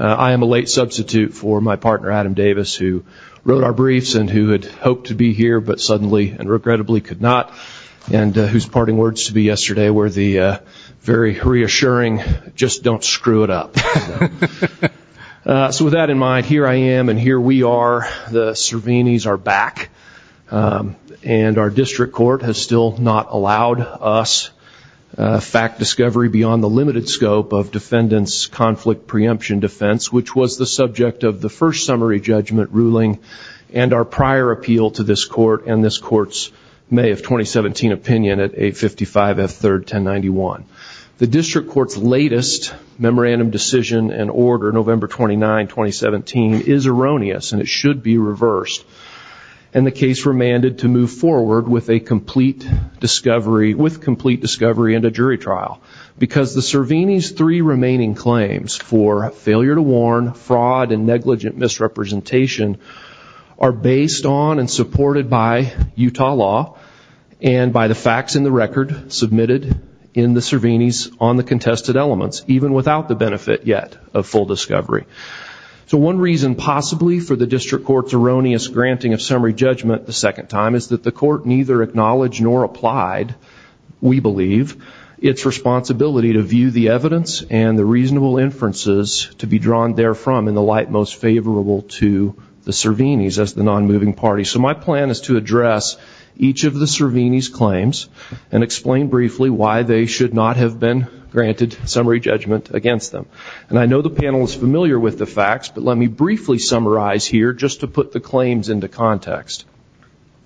I am a late substitute for my partner Adam Davis, who wrote our briefs and who had hoped to be here but suddenly and regrettably could not, and whose parting words to be yesterday were the very reassuring, just don't screw it up. So with that in mind, here I am and here we are. The Cervenys are back. And our district court has still not allowed us fact discovery beyond the limited scope of defendant's conflict preemption defense, which was the and this court's May of 2017 opinion at 855 F 3rd 1091. The district court's latest memorandum decision and order November 29, 2017 is erroneous and it should be reversed. And the case remanded to move forward with a complete discovery with complete discovery and a jury trial. Because the Cerveny's three remaining claims for failure to warn, fraud, and negligent misrepresentation are based on and supported by Utah law and by the facts in the record submitted in the Cerveny's on the contested elements, even without the benefit yet of full discovery. So one reason possibly for the district court's erroneous granting of summary judgment the second time is that the court neither acknowledged nor applied, we believe, its responsibility to view the evidence and the reasonable inferences to be drawn there from in the light most favorable to the Cerveny's as the non-moving party. So my plan is to address each of the Cerveny's claims and explain briefly why they should not have been granted summary judgment against them. And I know the panel is familiar with the facts, but let me briefly summarize here just to put the claims into context.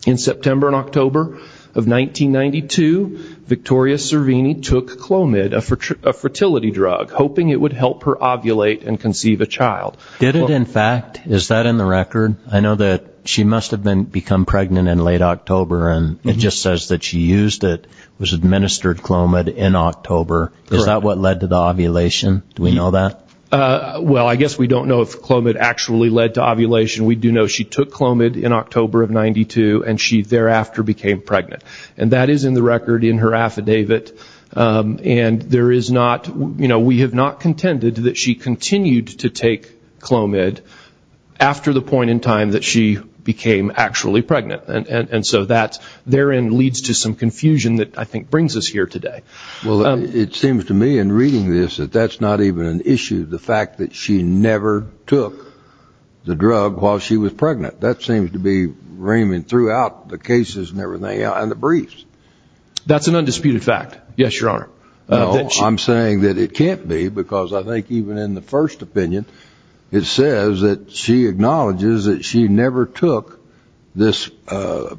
In September and October of 1992, Victoria Cerveny took Clomid, a fertility drug, hoping it would help her ovulate and conceive a child. Did it, in fact? Is that in the record? I know that she must have become pregnant in late October, and it just says that she used it, was administered Clomid in October. Is that what led to the ovulation? Do we know that? Well, I guess we don't know if Clomid actually led to ovulation. We do know she took Clomid in October of 1992, and she thereafter became pregnant. And that is in the record in her continued to take Clomid after the point in time that she became actually pregnant. And so that therein leads to some confusion that I think brings us here today. Well, it seems to me in reading this that that's not even an issue, the fact that she never took the drug while she was pregnant. That seems to be reaming throughout the cases and everything, and the briefs. That's an undisputed fact, yes, Your Honor. No, I'm saying that it can't be, because I think even in the first opinion, it says that she acknowledges that she never took this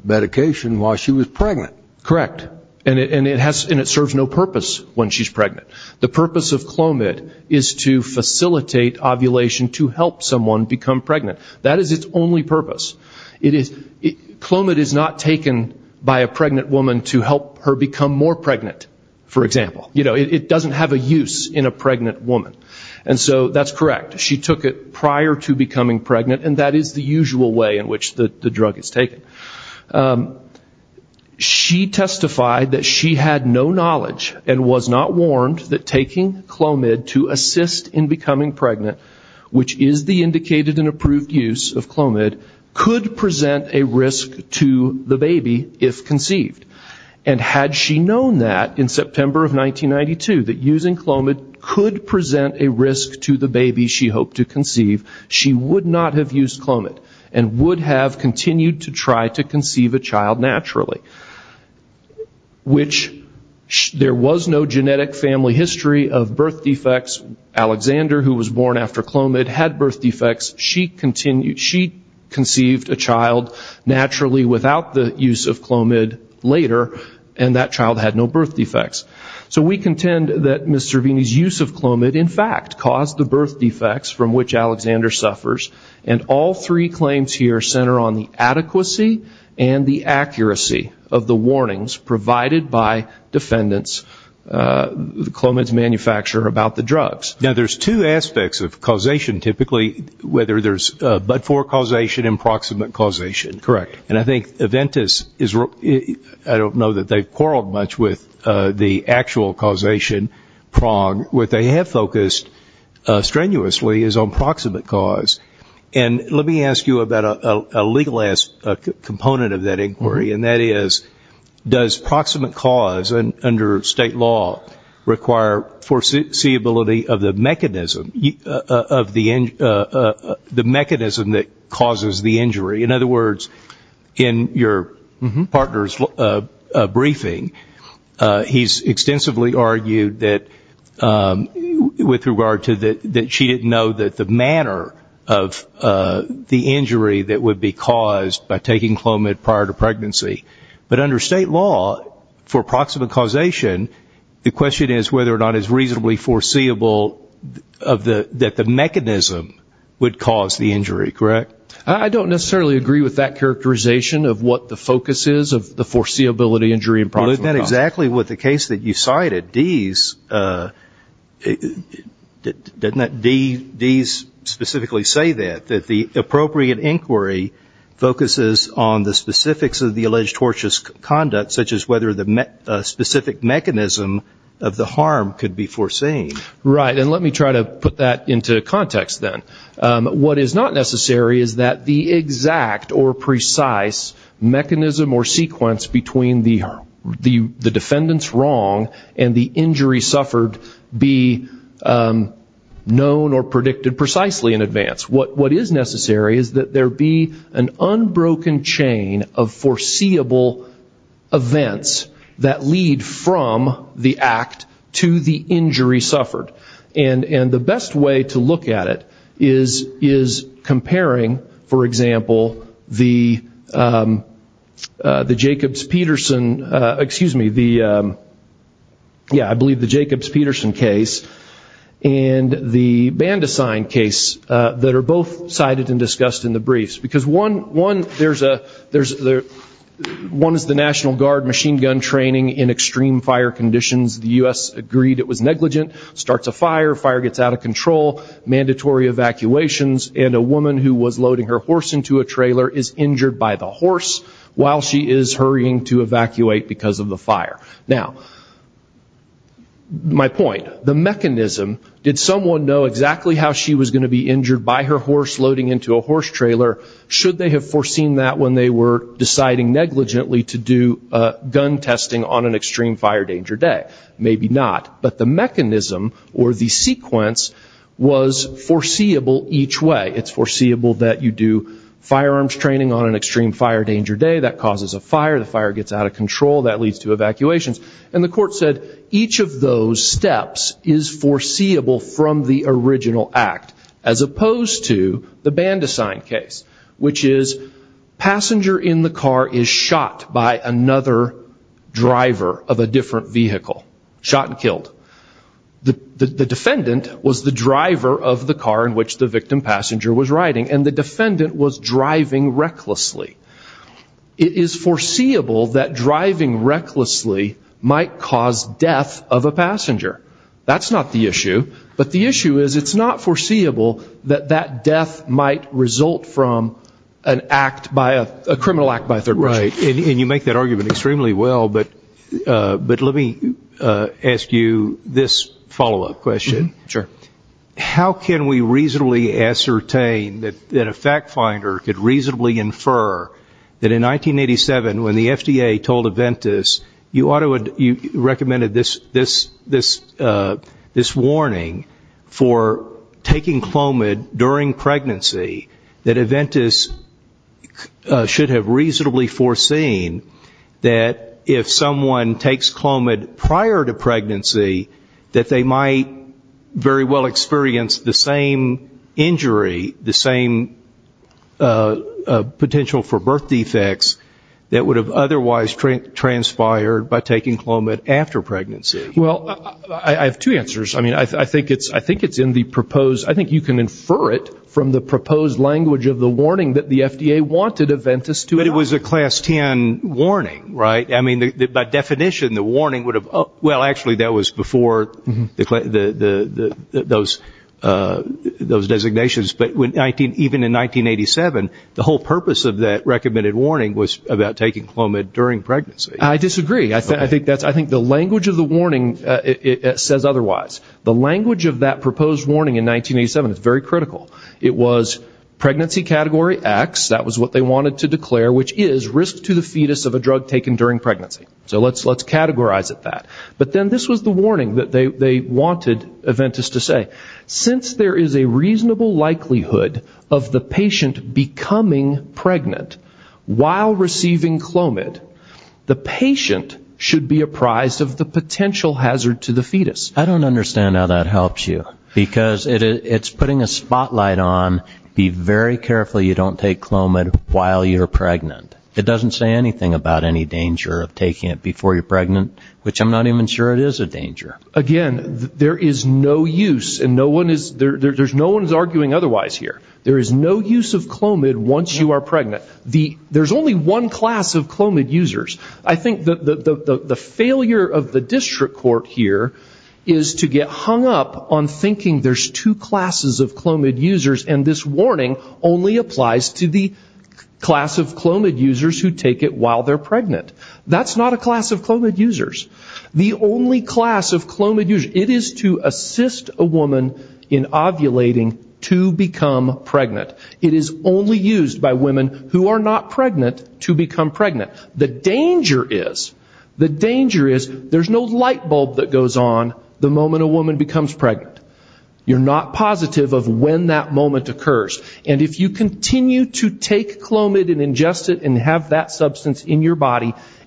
medication while she was pregnant. Correct. And it serves no purpose when she's pregnant. The purpose of Clomid is to facilitate ovulation to help someone become pregnant. That is its only purpose. Clomid is not taken by a pregnant woman to help her become more pregnant, for example. You know, it doesn't have a use in a pregnant woman. And so that's correct. She took it prior to becoming pregnant, and that is the usual way in which the drug is taken. She testified that she had no knowledge and was not warned that taking Clomid to assist in becoming pregnant, which is the indicated and approved use of Clomid, could present a risk to the baby if conceived. And had she known that in September of 1992, that using Clomid could present a risk to the baby she hoped to conceive, she would not have used Clomid and would have continued to try to conceive a child naturally, which there was no genetic family history of birth defects. Alexander, who was born after Clomid, had a child naturally without the use of Clomid later, and that child had no birth defects. So we contend that Ms. Cervini's use of Clomid, in fact, caused the birth defects from which Alexander suffers. And all three claims here center on the adequacy and the accuracy of the warnings provided by defendants, Clomid's manufacturer, about the drugs. There's two aspects of causation, typically, whether there's but-for causation and proximate causation. And I think Aventis, I don't know that they've quarreled much with the actual causation prong. What they have focused strenuously is on proximate cause. And let me ask you about a legal component of that inquiry, and that is, does proximate cause under state law require foreseeability of the mechanism that causes the injury? In other words, in your partner's briefing, he's extensively argued that with regard to that she didn't know that the manner of the injury that would be caused by taking Clomid prior to pregnancy. But under state law, for proximate causation, the question is whether or not it's reasonably foreseeable that the mechanism would cause the injury, correct? I don't necessarily agree with that characterization of what the focus is of the foreseeability injury and proximate cause. But isn't that exactly what the case that you cited, Dease, doesn't that Dease specifically say that, that the appropriate inquiry focuses on the specifics of the alleged tortious conduct, such as whether the specific mechanism of the harm could be foreseen? Right. And let me try to put that into context then. What is not necessary is that the exact or precise mechanism or sequence between the defendant's wrong and the injury suffered be known or predicted precisely in advance. What is necessary is that there be an unbroken chain of foreseeable events that lead from the act to the injury suffered. And the best way to look at it is comparing, for example, the Jacobs-Peterson, excuse me, yeah, I believe the Jacobs-Peterson case and the Bandesign case that are both cited and discussed in the briefs. Because one, there's a, one is the National Guard machine gun training in extreme fire conditions. The U.S. agreed it was negligent, starts a fire, fire gets out of control, mandatory evacuations, and a woman who was loading her horse into a trailer is injured by the horse while she is hurrying to evacuate because of the fire. Now, my point, the mechanism, did someone know exactly how she was going to be injured by her horse loading into a horse trailer? Should they have foreseen that when they were deciding negligently to do gun testing on an extreme fire danger day? Maybe not. But the mechanism or the sequence was foreseeable each way. It's foreseeable that you do firearms training on an extreme fire danger day, that causes a fire, the fire gets out of control, that leads to evacuations. And the court said each of those steps is foreseeable from the original act as opposed to the Bandesign case, which is passenger in the car is shot by another driver of a different vehicle, shot and killed. The defendant was the driver of the car in which the victim passenger was riding and the defendant was driving recklessly. It is foreseeable that driving recklessly might cause death of a passenger. That's not the issue. But the issue is it's not foreseeable that that death might result from an act by a criminal act by a third party. Right. And you make that argument extremely well. But let me ask you this follow-up question. Sure. How can we reasonably ascertain that a fact finder could reasonably infer that in 1987 when the FDA told Aventis you recommended this warning for taking Clomid during pregnancy that Aventis should have reasonably foreseen that if someone takes Clomid prior to pregnancy that they might very well experience the same injury, the same potential for birth defects that would have otherwise transpired by taking Clomid after pregnancy? Well, I have two answers. I mean, I think it's in the proposed, I think you can infer it from the proposed language of the warning that the FDA wanted Aventis to have. But it was a class 10 warning, right? I mean, by definition the warning would have, well, actually that was before those designations. But even in 1987 the whole purpose of that recommended warning was about taking Clomid during pregnancy. I disagree. I think the language of the warning says otherwise. The language of that proposed warning in 1987 is very critical. It was pregnancy category X, that was what they wanted to declare, which is risk to the fetus of a drug taken during pregnancy. So let's categorize it that. But then this was the warning that they wanted Aventis to say. Since there is a reasonable likelihood of the patient becoming pregnant while receiving Clomid, the patient should be apprised of the potential hazard to the fetus. I don't understand how that helps you. Because it's putting a spotlight on be very careful you don't take Clomid while you're pregnant. It doesn't say anything about any danger of pregnancy. I'm not even sure it is a danger. Again, there is no use and no one is arguing otherwise here. There is no use of Clomid once you are pregnant. There's only one class of Clomid users. I think the failure of the district court here is to get hung up on thinking there's two classes of Clomid users and this warning only applies to the class of Clomid users who take it while they're pregnant. That's not a class of Clomid users. The only class of Clomid users, it is to assist a woman in ovulating to become pregnant. It is only used by women who are not pregnant to become pregnant. The danger is, the danger is there's no light bulb that goes on the moment a woman becomes pregnant. You're not positive of when that moment occurs. And if you continue to do that,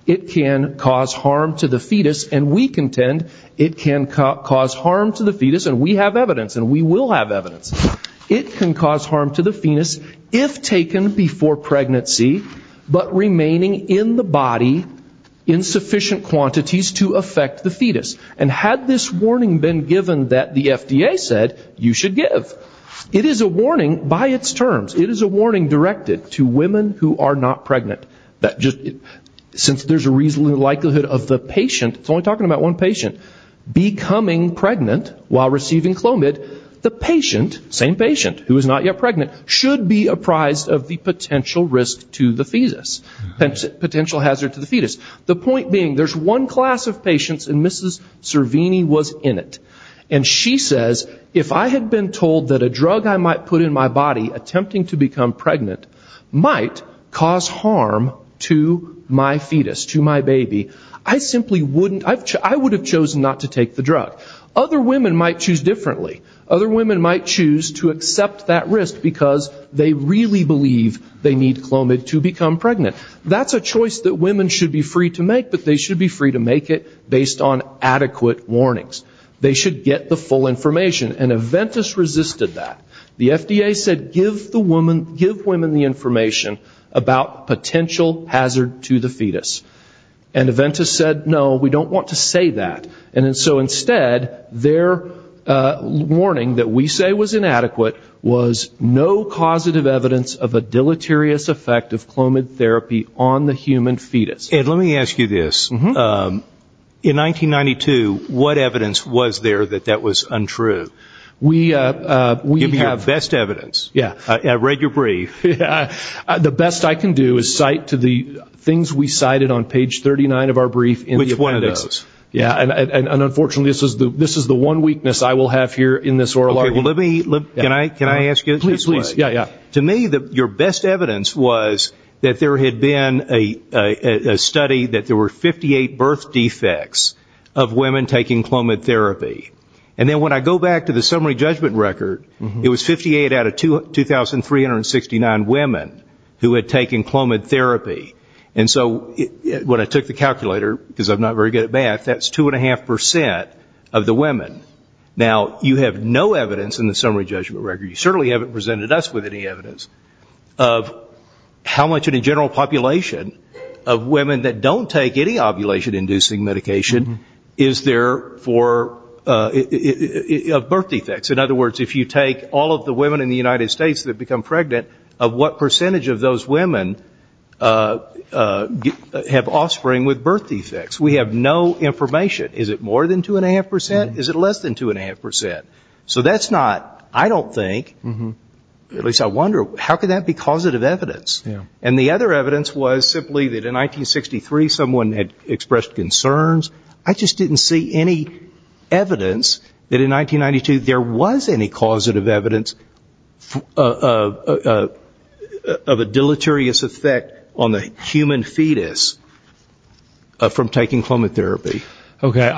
it can cause harm to the fetus and we contend it can cause harm to the fetus and we have evidence and we will have evidence. It can cause harm to the fetus if taken before pregnancy but remaining in the body in sufficient quantities to affect the fetus. And had this warning been given that the FDA said you should give, it is a warning by its terms. It is a warning directed to women who are not pregnant that just, since there's a reasonable likelihood of the patient, it's only talking about one patient, becoming pregnant while receiving Clomid, the patient, same patient who is not yet pregnant, should be apprised of the potential risk to the fetus, potential hazard to the fetus. The point being there's one class of patients and Mrs. Servini was in it. And she says if I had been told that a drug I might put in my body attempting to become pregnant might cause harm to my fetus, to my baby, I simply wouldn't, I would have chosen not to take the drug. Other women might choose differently. Other women might choose to accept that risk because they really believe they need Clomid to become pregnant. That's a choice that women should be free to make but they should be free to make it based on adequate warnings. They should get the full information and Aventis resisted that. The FDA said give women the information about potential hazard to the fetus. And Aventis said no, we don't want to say that. And so instead their warning that we say was inadequate was no causative evidence of a deleterious effect of Clomid therapy on the human fetus. Ed, let me ask you this. In 1992 what evidence was there that that was untrue? Give me your best evidence. I read your brief. The best I can do is cite to the things we cited on page 39 of our brief in the appendix. Which one of those? And unfortunately this is the one weakness I will have here in this oral argument. To me your best evidence was that there had been a study that there were 58 birth defects of women taking Clomid therapy. And then when I go back to the summary judgment record, it was 58 out of 2,369 women who had taken Clomid therapy. And so when I took the calculator, because I'm not very good at math, that's 2.5% of the women. Now, you have no evidence in the summary judgment record, you certainly haven't presented us with any evidence of how much in a general population of women that don't take any ovulation-inducing medication is there for birth defects. In other words, if you take all of the women in the United States that become pregnant, of what percentage of those women have offspring with birth defects? We have no information. Is it more than 2.5%? Is it less than 2.5%? So that's not, I don't think, at least I wonder, how could that be causative evidence? And the other evidence was simply that in 1963 someone had expressed concerns. I just didn't see any evidence that in 1992 there was any causative evidence of a deleterious effect on the human fetus from taking Clomid therapy. Okay.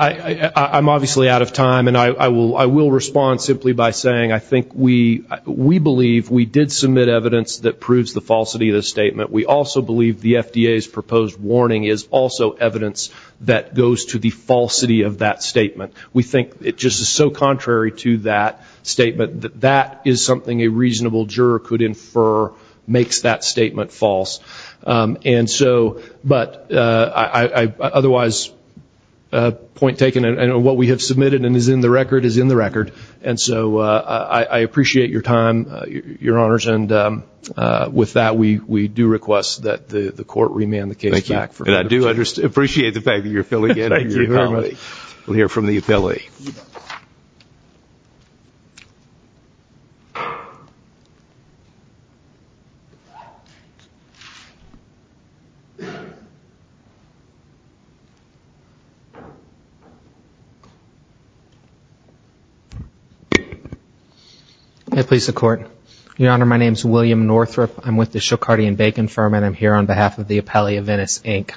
I'm obviously out of time and I will respond simply by saying I think we believe we did submit evidence that proves the falsity of the statement. We also believe the FDA's proposed warning is also evidence that goes to the falsity of that statement. We think it just is so contrary to that statement that that is something a reasonable juror could infer makes that statement false. And so, but I otherwise point taken, I know what we have submitted and is in the record is in the record. And so I appreciate your time, your honors, and with that we do request that the court remand the case back. Thank you. And I do appreciate the fact that you're filling in. Thank you very much. William Northrup. Your Honor, my name is William Northrup. I'm with the Shokardi and Bacon firm and I'm here on behalf of the Appellee of Venice, Inc.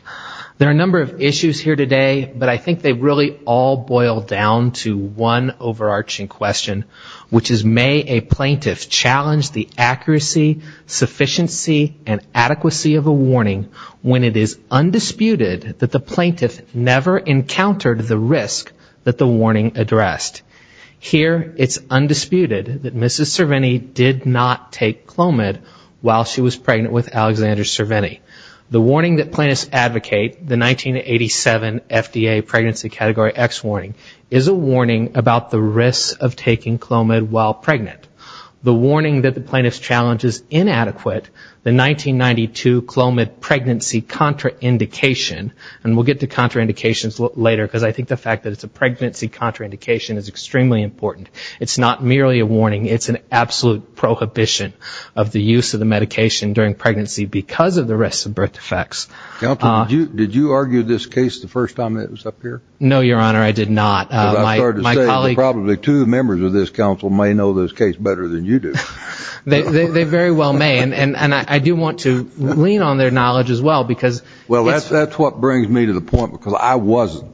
There are a number of issues here today, but I think they really all boil down to one overarching question, which is may a plaintiff challenge the accuracy, sufficiency, and adequacy of the warning when it is undisputed that the plaintiff never encountered the risk that the warning addressed. Here it's undisputed that Mrs. Cervini did not take Clomid while she was pregnant with Alexander Cervini. The warning that plaintiffs advocate, the 1987 FDA pregnancy category X warning, is a warning about the risk of taking Clomid while pregnant. The warning that the plaintiff's challenge is inadequate, the 1992 FDA Clomid pregnancy contraindication, and we'll get to contraindications later, because I think the fact that it's a pregnancy contraindication is extremely important. It's not merely a warning, it's an absolute prohibition of the use of the medication during pregnancy because of the risk of birth defects. Counsel, did you argue this case the first time it was up here? No, Your Honor, I did not. As I started to say, probably two members of this counsel may know this case better than you do. They very well may, and I do want to lean on their knowledge as well. Well, that's what brings me to the point, because I wasn't.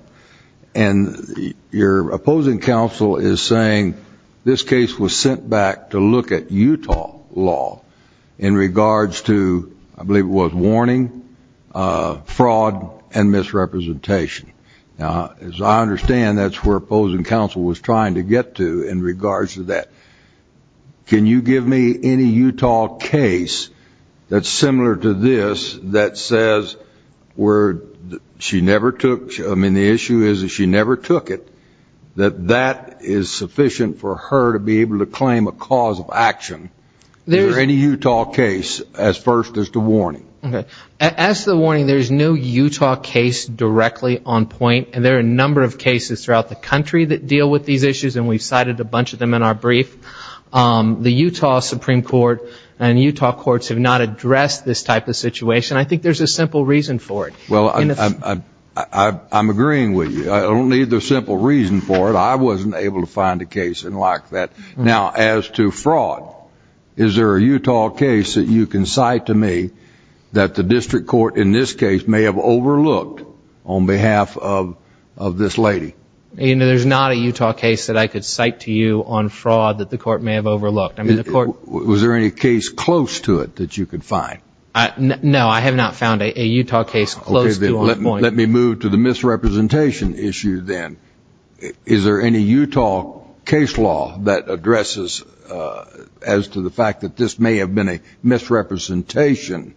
And your opposing counsel is saying this case was sent back to look at Utah law in regards to, I believe it was, warning, fraud, and misrepresentation. Now, as I understand, that's where opposing counsel was trying to get to in regards to that. Can you give me any Utah case that's similar to this that says where she never took, I mean, the issue is that she never took it, that that is sufficient for her to be able to claim a cause of action. Is there any Utah case as first as the warning? Okay. As the warning, there's no Utah case directly on point, and there are a number of cases throughout the country that deal with these issues, and we've cited a bunch of them in our brief. The Utah Supreme Court and Utah courts have not addressed this type of situation. I think there's a simple reason for it. Well, I'm agreeing with you. I don't need the simple reason for it. I wasn't able to find a case in like that. Now, as to fraud, is there a Utah case that you can cite to me that the district court in this case may have overlooked on behalf of this lady? You know, there's not a Utah case that I could cite to you on fraud that the court may have overlooked. Was there any case close to it that you could find? No, I have not found a Utah case close to on point. Let me move to the misrepresentation issue then. Is there any Utah case law that addresses as to the fact that this may have been a misrepresentation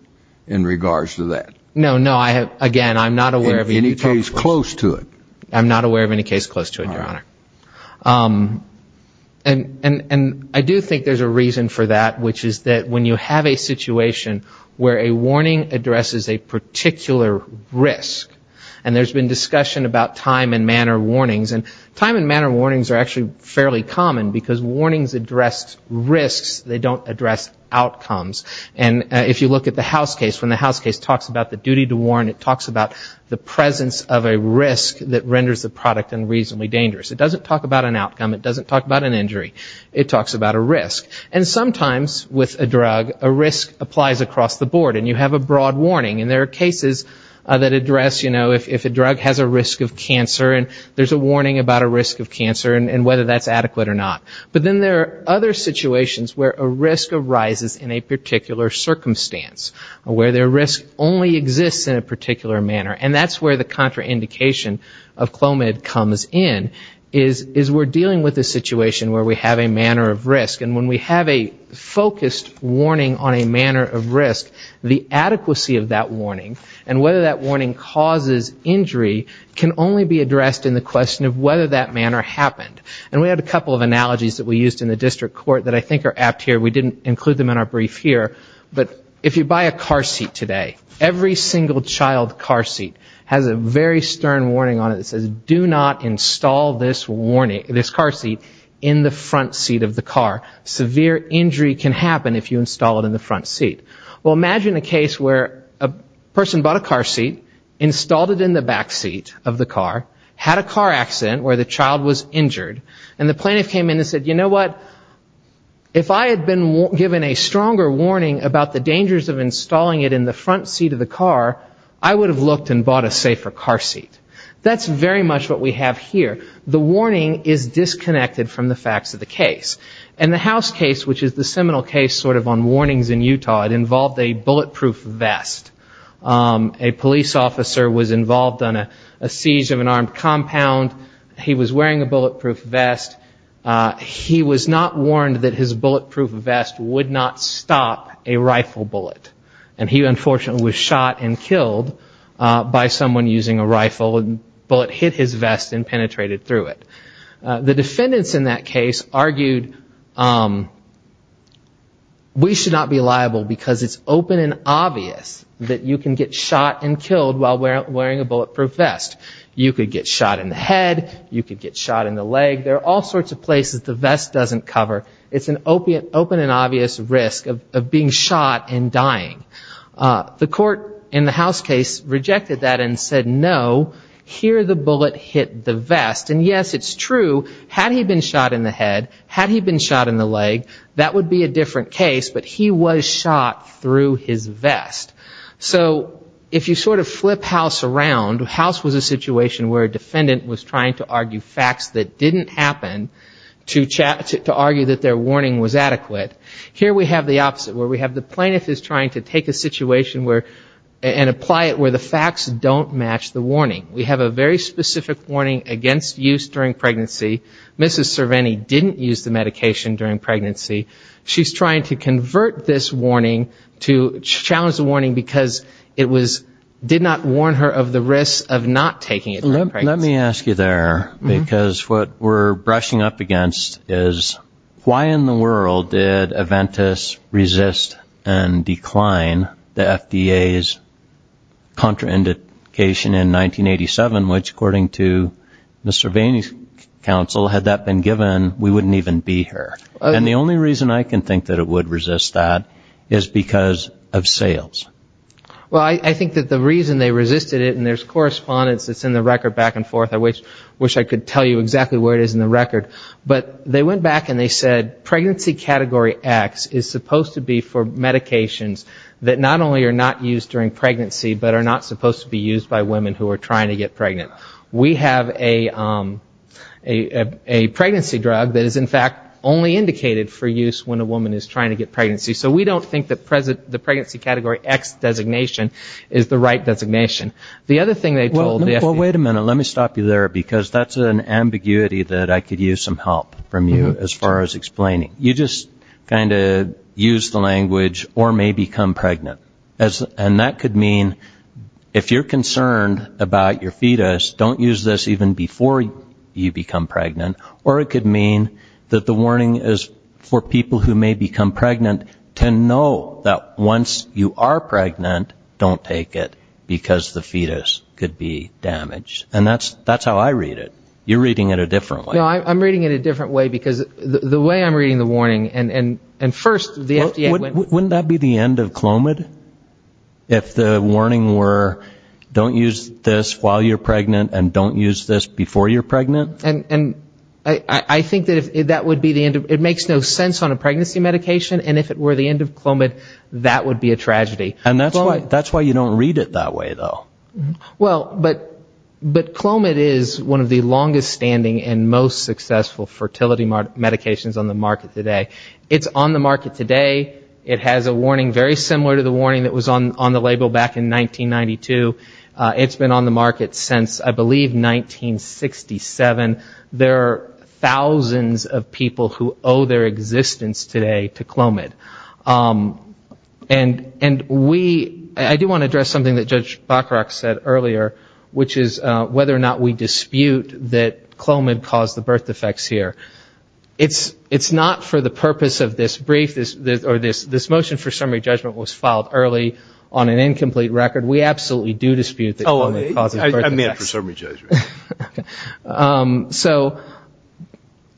in regards to that? No, no. Again, I'm not aware of any case close to it, Your Honor. And I do think there's a reason for that, which is that when you have a situation where a warning addresses a particular risk, and there's been discussion about time and manner warnings, and time and manner warnings are actually fairly common, because warnings address risks. They don't address outcomes. And if you look at the House case, when the House case talks about the duty to warn, it talks about the presence of a risk that renders the product unreasonably dangerous. It doesn't talk about an outcome. It doesn't talk about an injury. It talks about a risk. And sometimes with a drug, a risk applies across the board, and you have a broad warning. And there are cases that address, you know, if a drug has a risk of cancer, and there's a warning about a risk of cancer, and whether that's adequate or not. But then there are other situations where a risk arises in a particular circumstance, where the risk only exists in a particular manner. And that's where the contraindication of Clomid comes in, is we're dealing with a situation where we have a manner of risk. And when we have a focused warning on a manner of risk, the adequacy of that warning, and whether that warning causes injury, can only be addressed in the question of whether that manner happened. And we had a couple of analogies that we used in the district court that I think are apt here. We didn't include them in our brief here, but if you buy a car seat today, every single child car seat has a very stern warning on it that says, do not install this car seat in the front seat of the car. Severe injury can happen if you install it in the front seat. Well, imagine a case where a person bought a car seat, installed it in the back seat of the car, had a car accident where the child was injured, and the plaintiff came in and said, you know what, if I had been given a stronger warning about the dangers of installing it in the front seat of the car, I would have looked and bought a safer car seat. That's very much what we have here. The warning is disconnected from the facts of the case. In the House case, which is the seminal case sort of on warnings in Utah, it involved a bulletproof vest. A police officer was involved in a siege of an armed compound. He was wearing a bulletproof vest. He was not warned that his bulletproof vest would not stop a rifle bullet. And he, unfortunately, was shot and killed by someone using a rifle. The bullet hit his vest and penetrated through it. The defendants in that case argued, we should not be liable because it's open and obvious that you can get shot and killed while wearing a bulletproof vest. You could get shot in the head, you could get shot in the leg. There are all sorts of places the vest doesn't cover. It's an open and obvious risk of being shot and dying. The court in the House case rejected that and said, no, here the bullet hit the vest. And, yes, it's true, had he been shot in the head, had he been shot in the leg, that would be a different case. But he was shot through his vest. So if you sort of flip House around, House was a situation where a defendant was trying to argue facts that didn't happen to argue that their warning was adequate. Here we have the opposite, where we have the plaintiff is trying to take a situation and apply it where the facts don't match the warning. We have a very specific warning against use during pregnancy. Mrs. Cervini didn't use the medication during pregnancy. She's trying to convert this warning to challenge the warning because it did not warn her of the risk of not taking it during pregnancy. Let me ask you there, because what we're brushing up against is why in the world did Aventis resist and decline the FDA's contraindication in 1987, which according to Mrs. Cervini's counsel, had that been given, we wouldn't even be here. And the only reason I can think that it would resist that is because of sales. Well, I think that the reason they resisted it, and there's correspondence that's in the record back and forth. I wish I could tell you exactly where it is in the record. But they went back and they said pregnancy category X is supposed to be for medications that not only are not used during pregnancy, but are not supposed to be used by women who are trying to get pregnant. We have a pregnancy drug that is, in fact, only indicated for use when a woman is trying to get pregnancy. So we don't think that the pregnancy category X designation is the right designation. The other thing they told the FDA... Well, wait a minute, let me stop you there, because that's an ambiguity that I could use some help from you as far as explaining. You just kind of used the language, or may become pregnant. And that could mean, if you're concerned about your fetus, don't use this even before you become pregnant. Or it could mean that the warning is for people who may become pregnant to know that once you are pregnant, don't take it, because the fetus could be damaged. And that's how I read it. You're reading it a different way. No, I'm reading it a different way, because the way I'm reading the warning, and first the FDA... Wouldn't that be the end of Clomid? If the warning were, don't use this while you're pregnant, and don't use this before you're pregnant? And I think that would be the end of... It makes no sense on a pregnancy medication, and if it were the end of Clomid, that would be a tragedy. And that's why you don't read it that way, though. Well, but Clomid is one of the longest-standing and most successful fertility medications on the market today. It's on the market today. It has a warning very similar to the warning that was on the label back in 1992. It's been on the market since, I believe, 1967. There are thousands of people who owe their existence today to Clomid. And I do want to address something that Judge Bacharach said earlier, which is whether or not we dispute that Clomid caused the birth defects here. It's not for the purpose of this brief, or this motion for summary judgment was filed early on an incomplete record. We absolutely do dispute that Clomid caused the birth defects.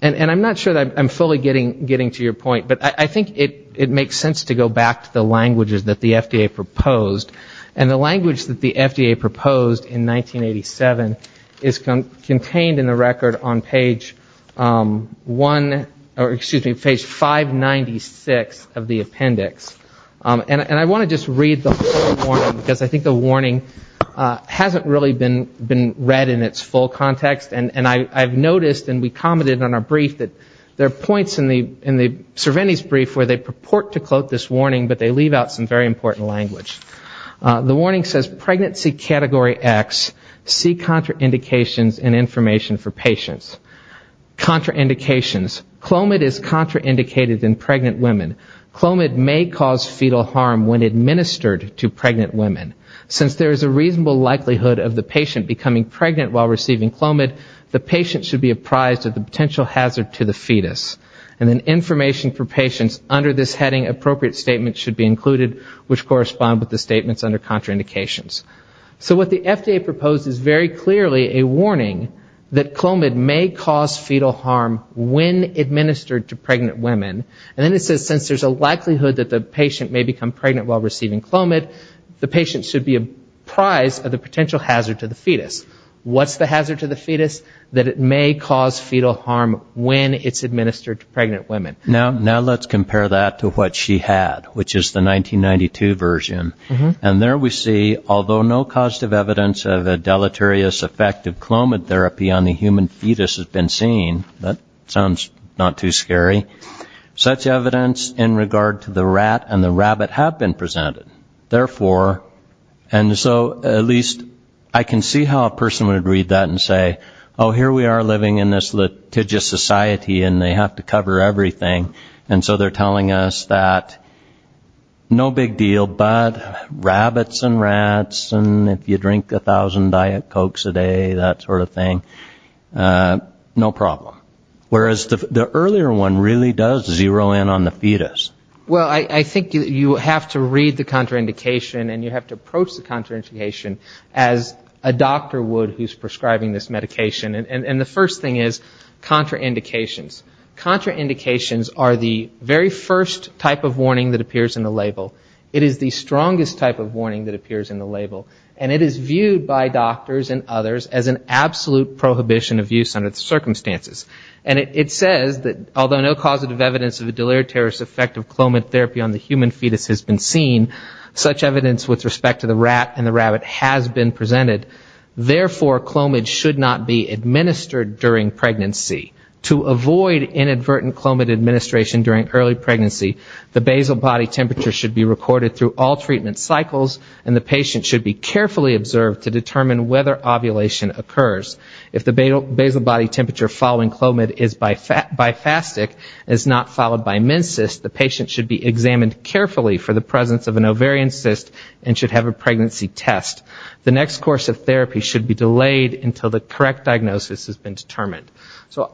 And I'm not sure that I'm fully getting to your point, but I think it makes sense to go back to the languages that the FDA proposed. And the language that the FDA proposed in 1987 is contained in the record on page 1, or excuse me, page 596 of the appendix. And I want to just read the whole warning, because I think the warning hasn't really been read in its full context. And I've noticed, and we commented on our brief, that there are points in the Cerveny's brief where they purport to quote this warning, but they leave out some very important language. The warning says, Pregnancy Category X, see contraindications and information for patients. Contraindications. Clomid is contraindicated in pregnant women. Clomid may cause fetal harm when administered to pregnant women. Since there is a reasonable likelihood of the patient becoming pregnant while receiving Clomid, the patient should be apprised of the potential hazard to the fetus. And then information for patients under this heading, appropriate statements should be included, which correspond with the statements under contraindications. So what the FDA proposed is very clearly a warning that Clomid may cause fetal harm when administered to pregnant women. And then it says since there's a likelihood that the patient may become pregnant while receiving Clomid, the patient should be apprised of the potential hazard to the fetus. What's the hazard to the fetus? That it may cause fetal harm when it's administered to pregnant women. Now let's compare that to what she had, which is the 1992 version. And there we see, although no causative evidence of a deleterious effect of Clomid therapy on the human fetus has been seen, that sounds not too scary, such evidence in regard to the rat and the rabbit have been presented. Therefore, and so at least I can see how a person would read that and say, oh, here we are living in this litigious society and they have to cover everything. And so they're telling us that no big deal, but rabbits and rats and if you drink a thousand Diet Cokes a day, that sort of thing, no problem. Whereas the earlier one really does zero in on the fetus. Well, I think you have to read the contraindication and you have to approach the contraindication as a doctor would who's prescribing this medication. And the first thing is contraindications. Contraindications are the very first type of warning that appears in the label. It is the strongest type of warning that appears in the label. And it is viewed by doctors and others as an absolute prohibition of use under the circumstances. And it says that although no causative evidence of a deleterious effect of clomid therapy on the human fetus has been seen, such evidence with respect to the rat and the rabbit has been presented. Therefore, clomid should not be administered during pregnancy. To avoid inadvertent clomid administration during early pregnancy, the basal body temperature should be recorded through all treatment cycles and the patient should be carefully observed to determine whether ovulation occurs. If the basal body temperature following clomid is bifastic and is not followed by men's cyst, the patient should be examined carefully for the presence of an ovarian cyst and should have a pregnancy test. The next course of therapy should be delayed until the correct diagnosis has been determined. So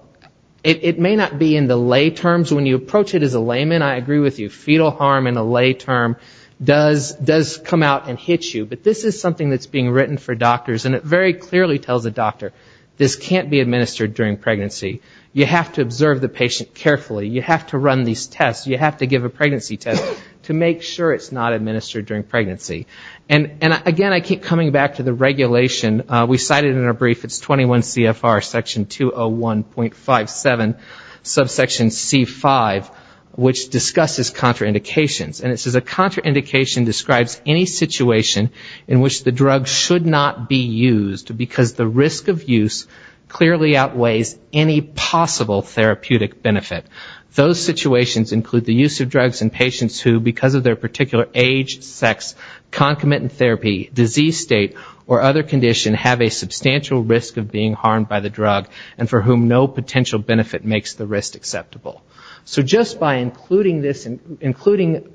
it may not be in the lay terms. When you approach it as a layman, I agree with you, fetal harm in a lay term does come out and hit you. But this is something that's being written for doctors and it very clearly tells a doctor, this can't be administered during pregnancy. You have to observe the patient carefully. You have to run these tests. You have to give a pregnancy test to make sure it's not administered during pregnancy. And again, I keep coming back to the regulation. We cited in our brief it's 21 CFR section 201.57 subsection C5, which discusses contraindications. And it says a contraindication describes any situation in which the drug should not be used because the risk of use clearly outweighs any possible therapeutic benefit. Those situations include the use of drugs in patients who because of their particular age, sex, concomitant therapy, disease state or other condition have a substantial risk of being harmed by the drug and for whom no potential benefit makes the risk acceptable. So just by including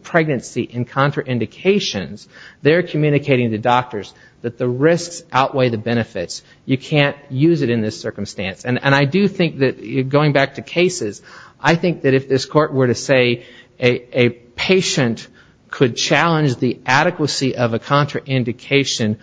pregnancy in contraindications, they're communicating to doctors that the risks outweigh the benefits. You can't use it in this circumstance. And I do think that going back to cases, I think that if this court were to say a patient could challenge the adequacy of a contraindication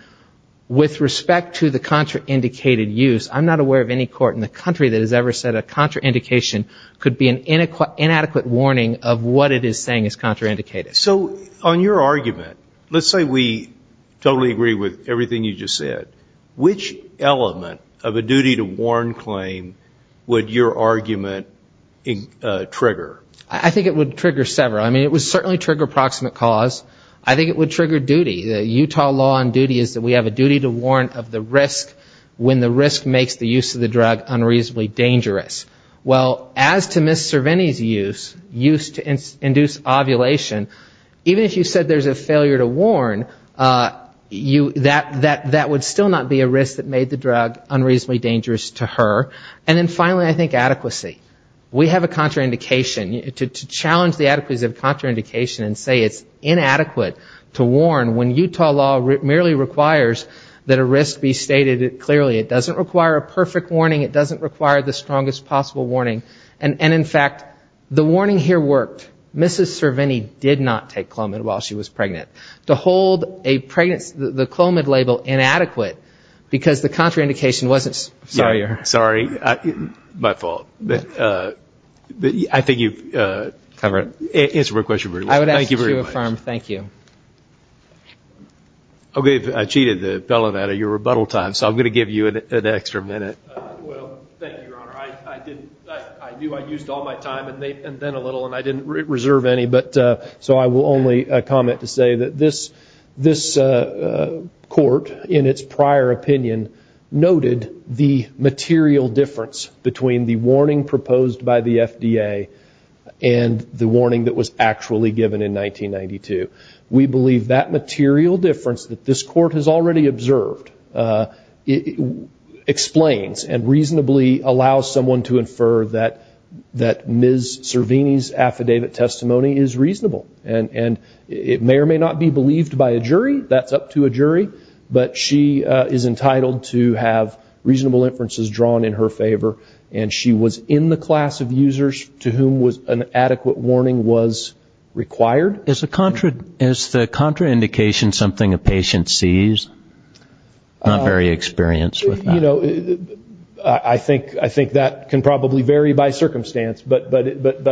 with respect to the contraindicated use, I'm not aware of any court in the country that has ever said a contraindication could be an inadequate warning of what it is saying is contraindicated. So on your argument, let's say we totally agree with everything you just said. What element of a duty to warn claim would your argument trigger? I think it would trigger several. I mean, it would certainly trigger approximate cause. I think it would trigger duty. The Utah law on duty is that we have a duty to warn of the risk when the risk makes the use of the drug unreasonably dangerous. Well, as to Ms. Cervini's use, use to induce ovulation, even if you said there's a failure to warn, that would still not be a risk that would make the drug unreasonably dangerous to her. And then finally, I think adequacy. We have a contraindication. To challenge the adequacy of contraindication and say it's inadequate to warn when Utah law merely requires that a risk be stated clearly. It doesn't require a perfect warning. It doesn't require the strongest possible warning. And in fact, the warning here worked. Ms. Cervini did not take Clomid while she was pregnant. To hold the Clomid label inadequate because the contraindication wasn't sorry to her. Sorry, my fault. I think you've answered my question very well. I would ask that you affirm. Thank you. Okay, I cheated the fellow out of your rebuttal time, so I'm going to give you an extra minute. Well, thank you, Your Honor. I knew I used all my time and then a little, and I didn't reserve any. So I will only comment to say that this court, in its prior opinion, noted the material difference between the warning proposed by the FDA and the warning that was actually given in 1992. We believe that material difference that this court has already observed explains and reasonably allows someone to infer that Ms. Cervini's affidavit testimony is reasonable. And it may or may not be believed by a jury. That's up to a jury. But she is entitled to have reasonable inferences drawn in her favor. And she was in the class of users to whom an adequate warning was required. Is the contraindication something a patient sees? Not very experienced with that. You know, I think that can probably vary by circumstance, but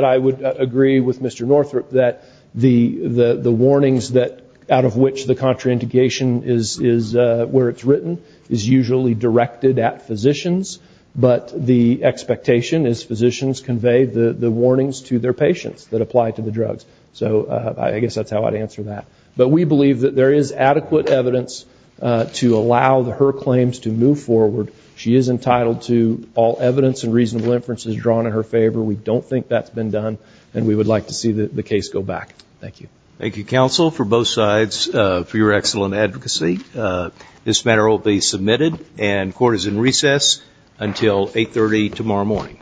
I would agree with Mr. Northrup that the warnings out of which the contraindication is where it's written is usually directed at physicians, but the expectation is physicians convey the warnings to their patients that apply to the drugs. So I guess that's how I'd answer that. But we believe that there is adequate evidence to allow her claims to move forward. She is entitled to all evidence and reasonable inferences drawn in her favor. We don't think that's been done, and we would like to see the case go back. Thank you. Thank you, counsel, for both sides, for your excellent advocacy. This matter will be submitted and court is in recess until 8.30 tomorrow morning.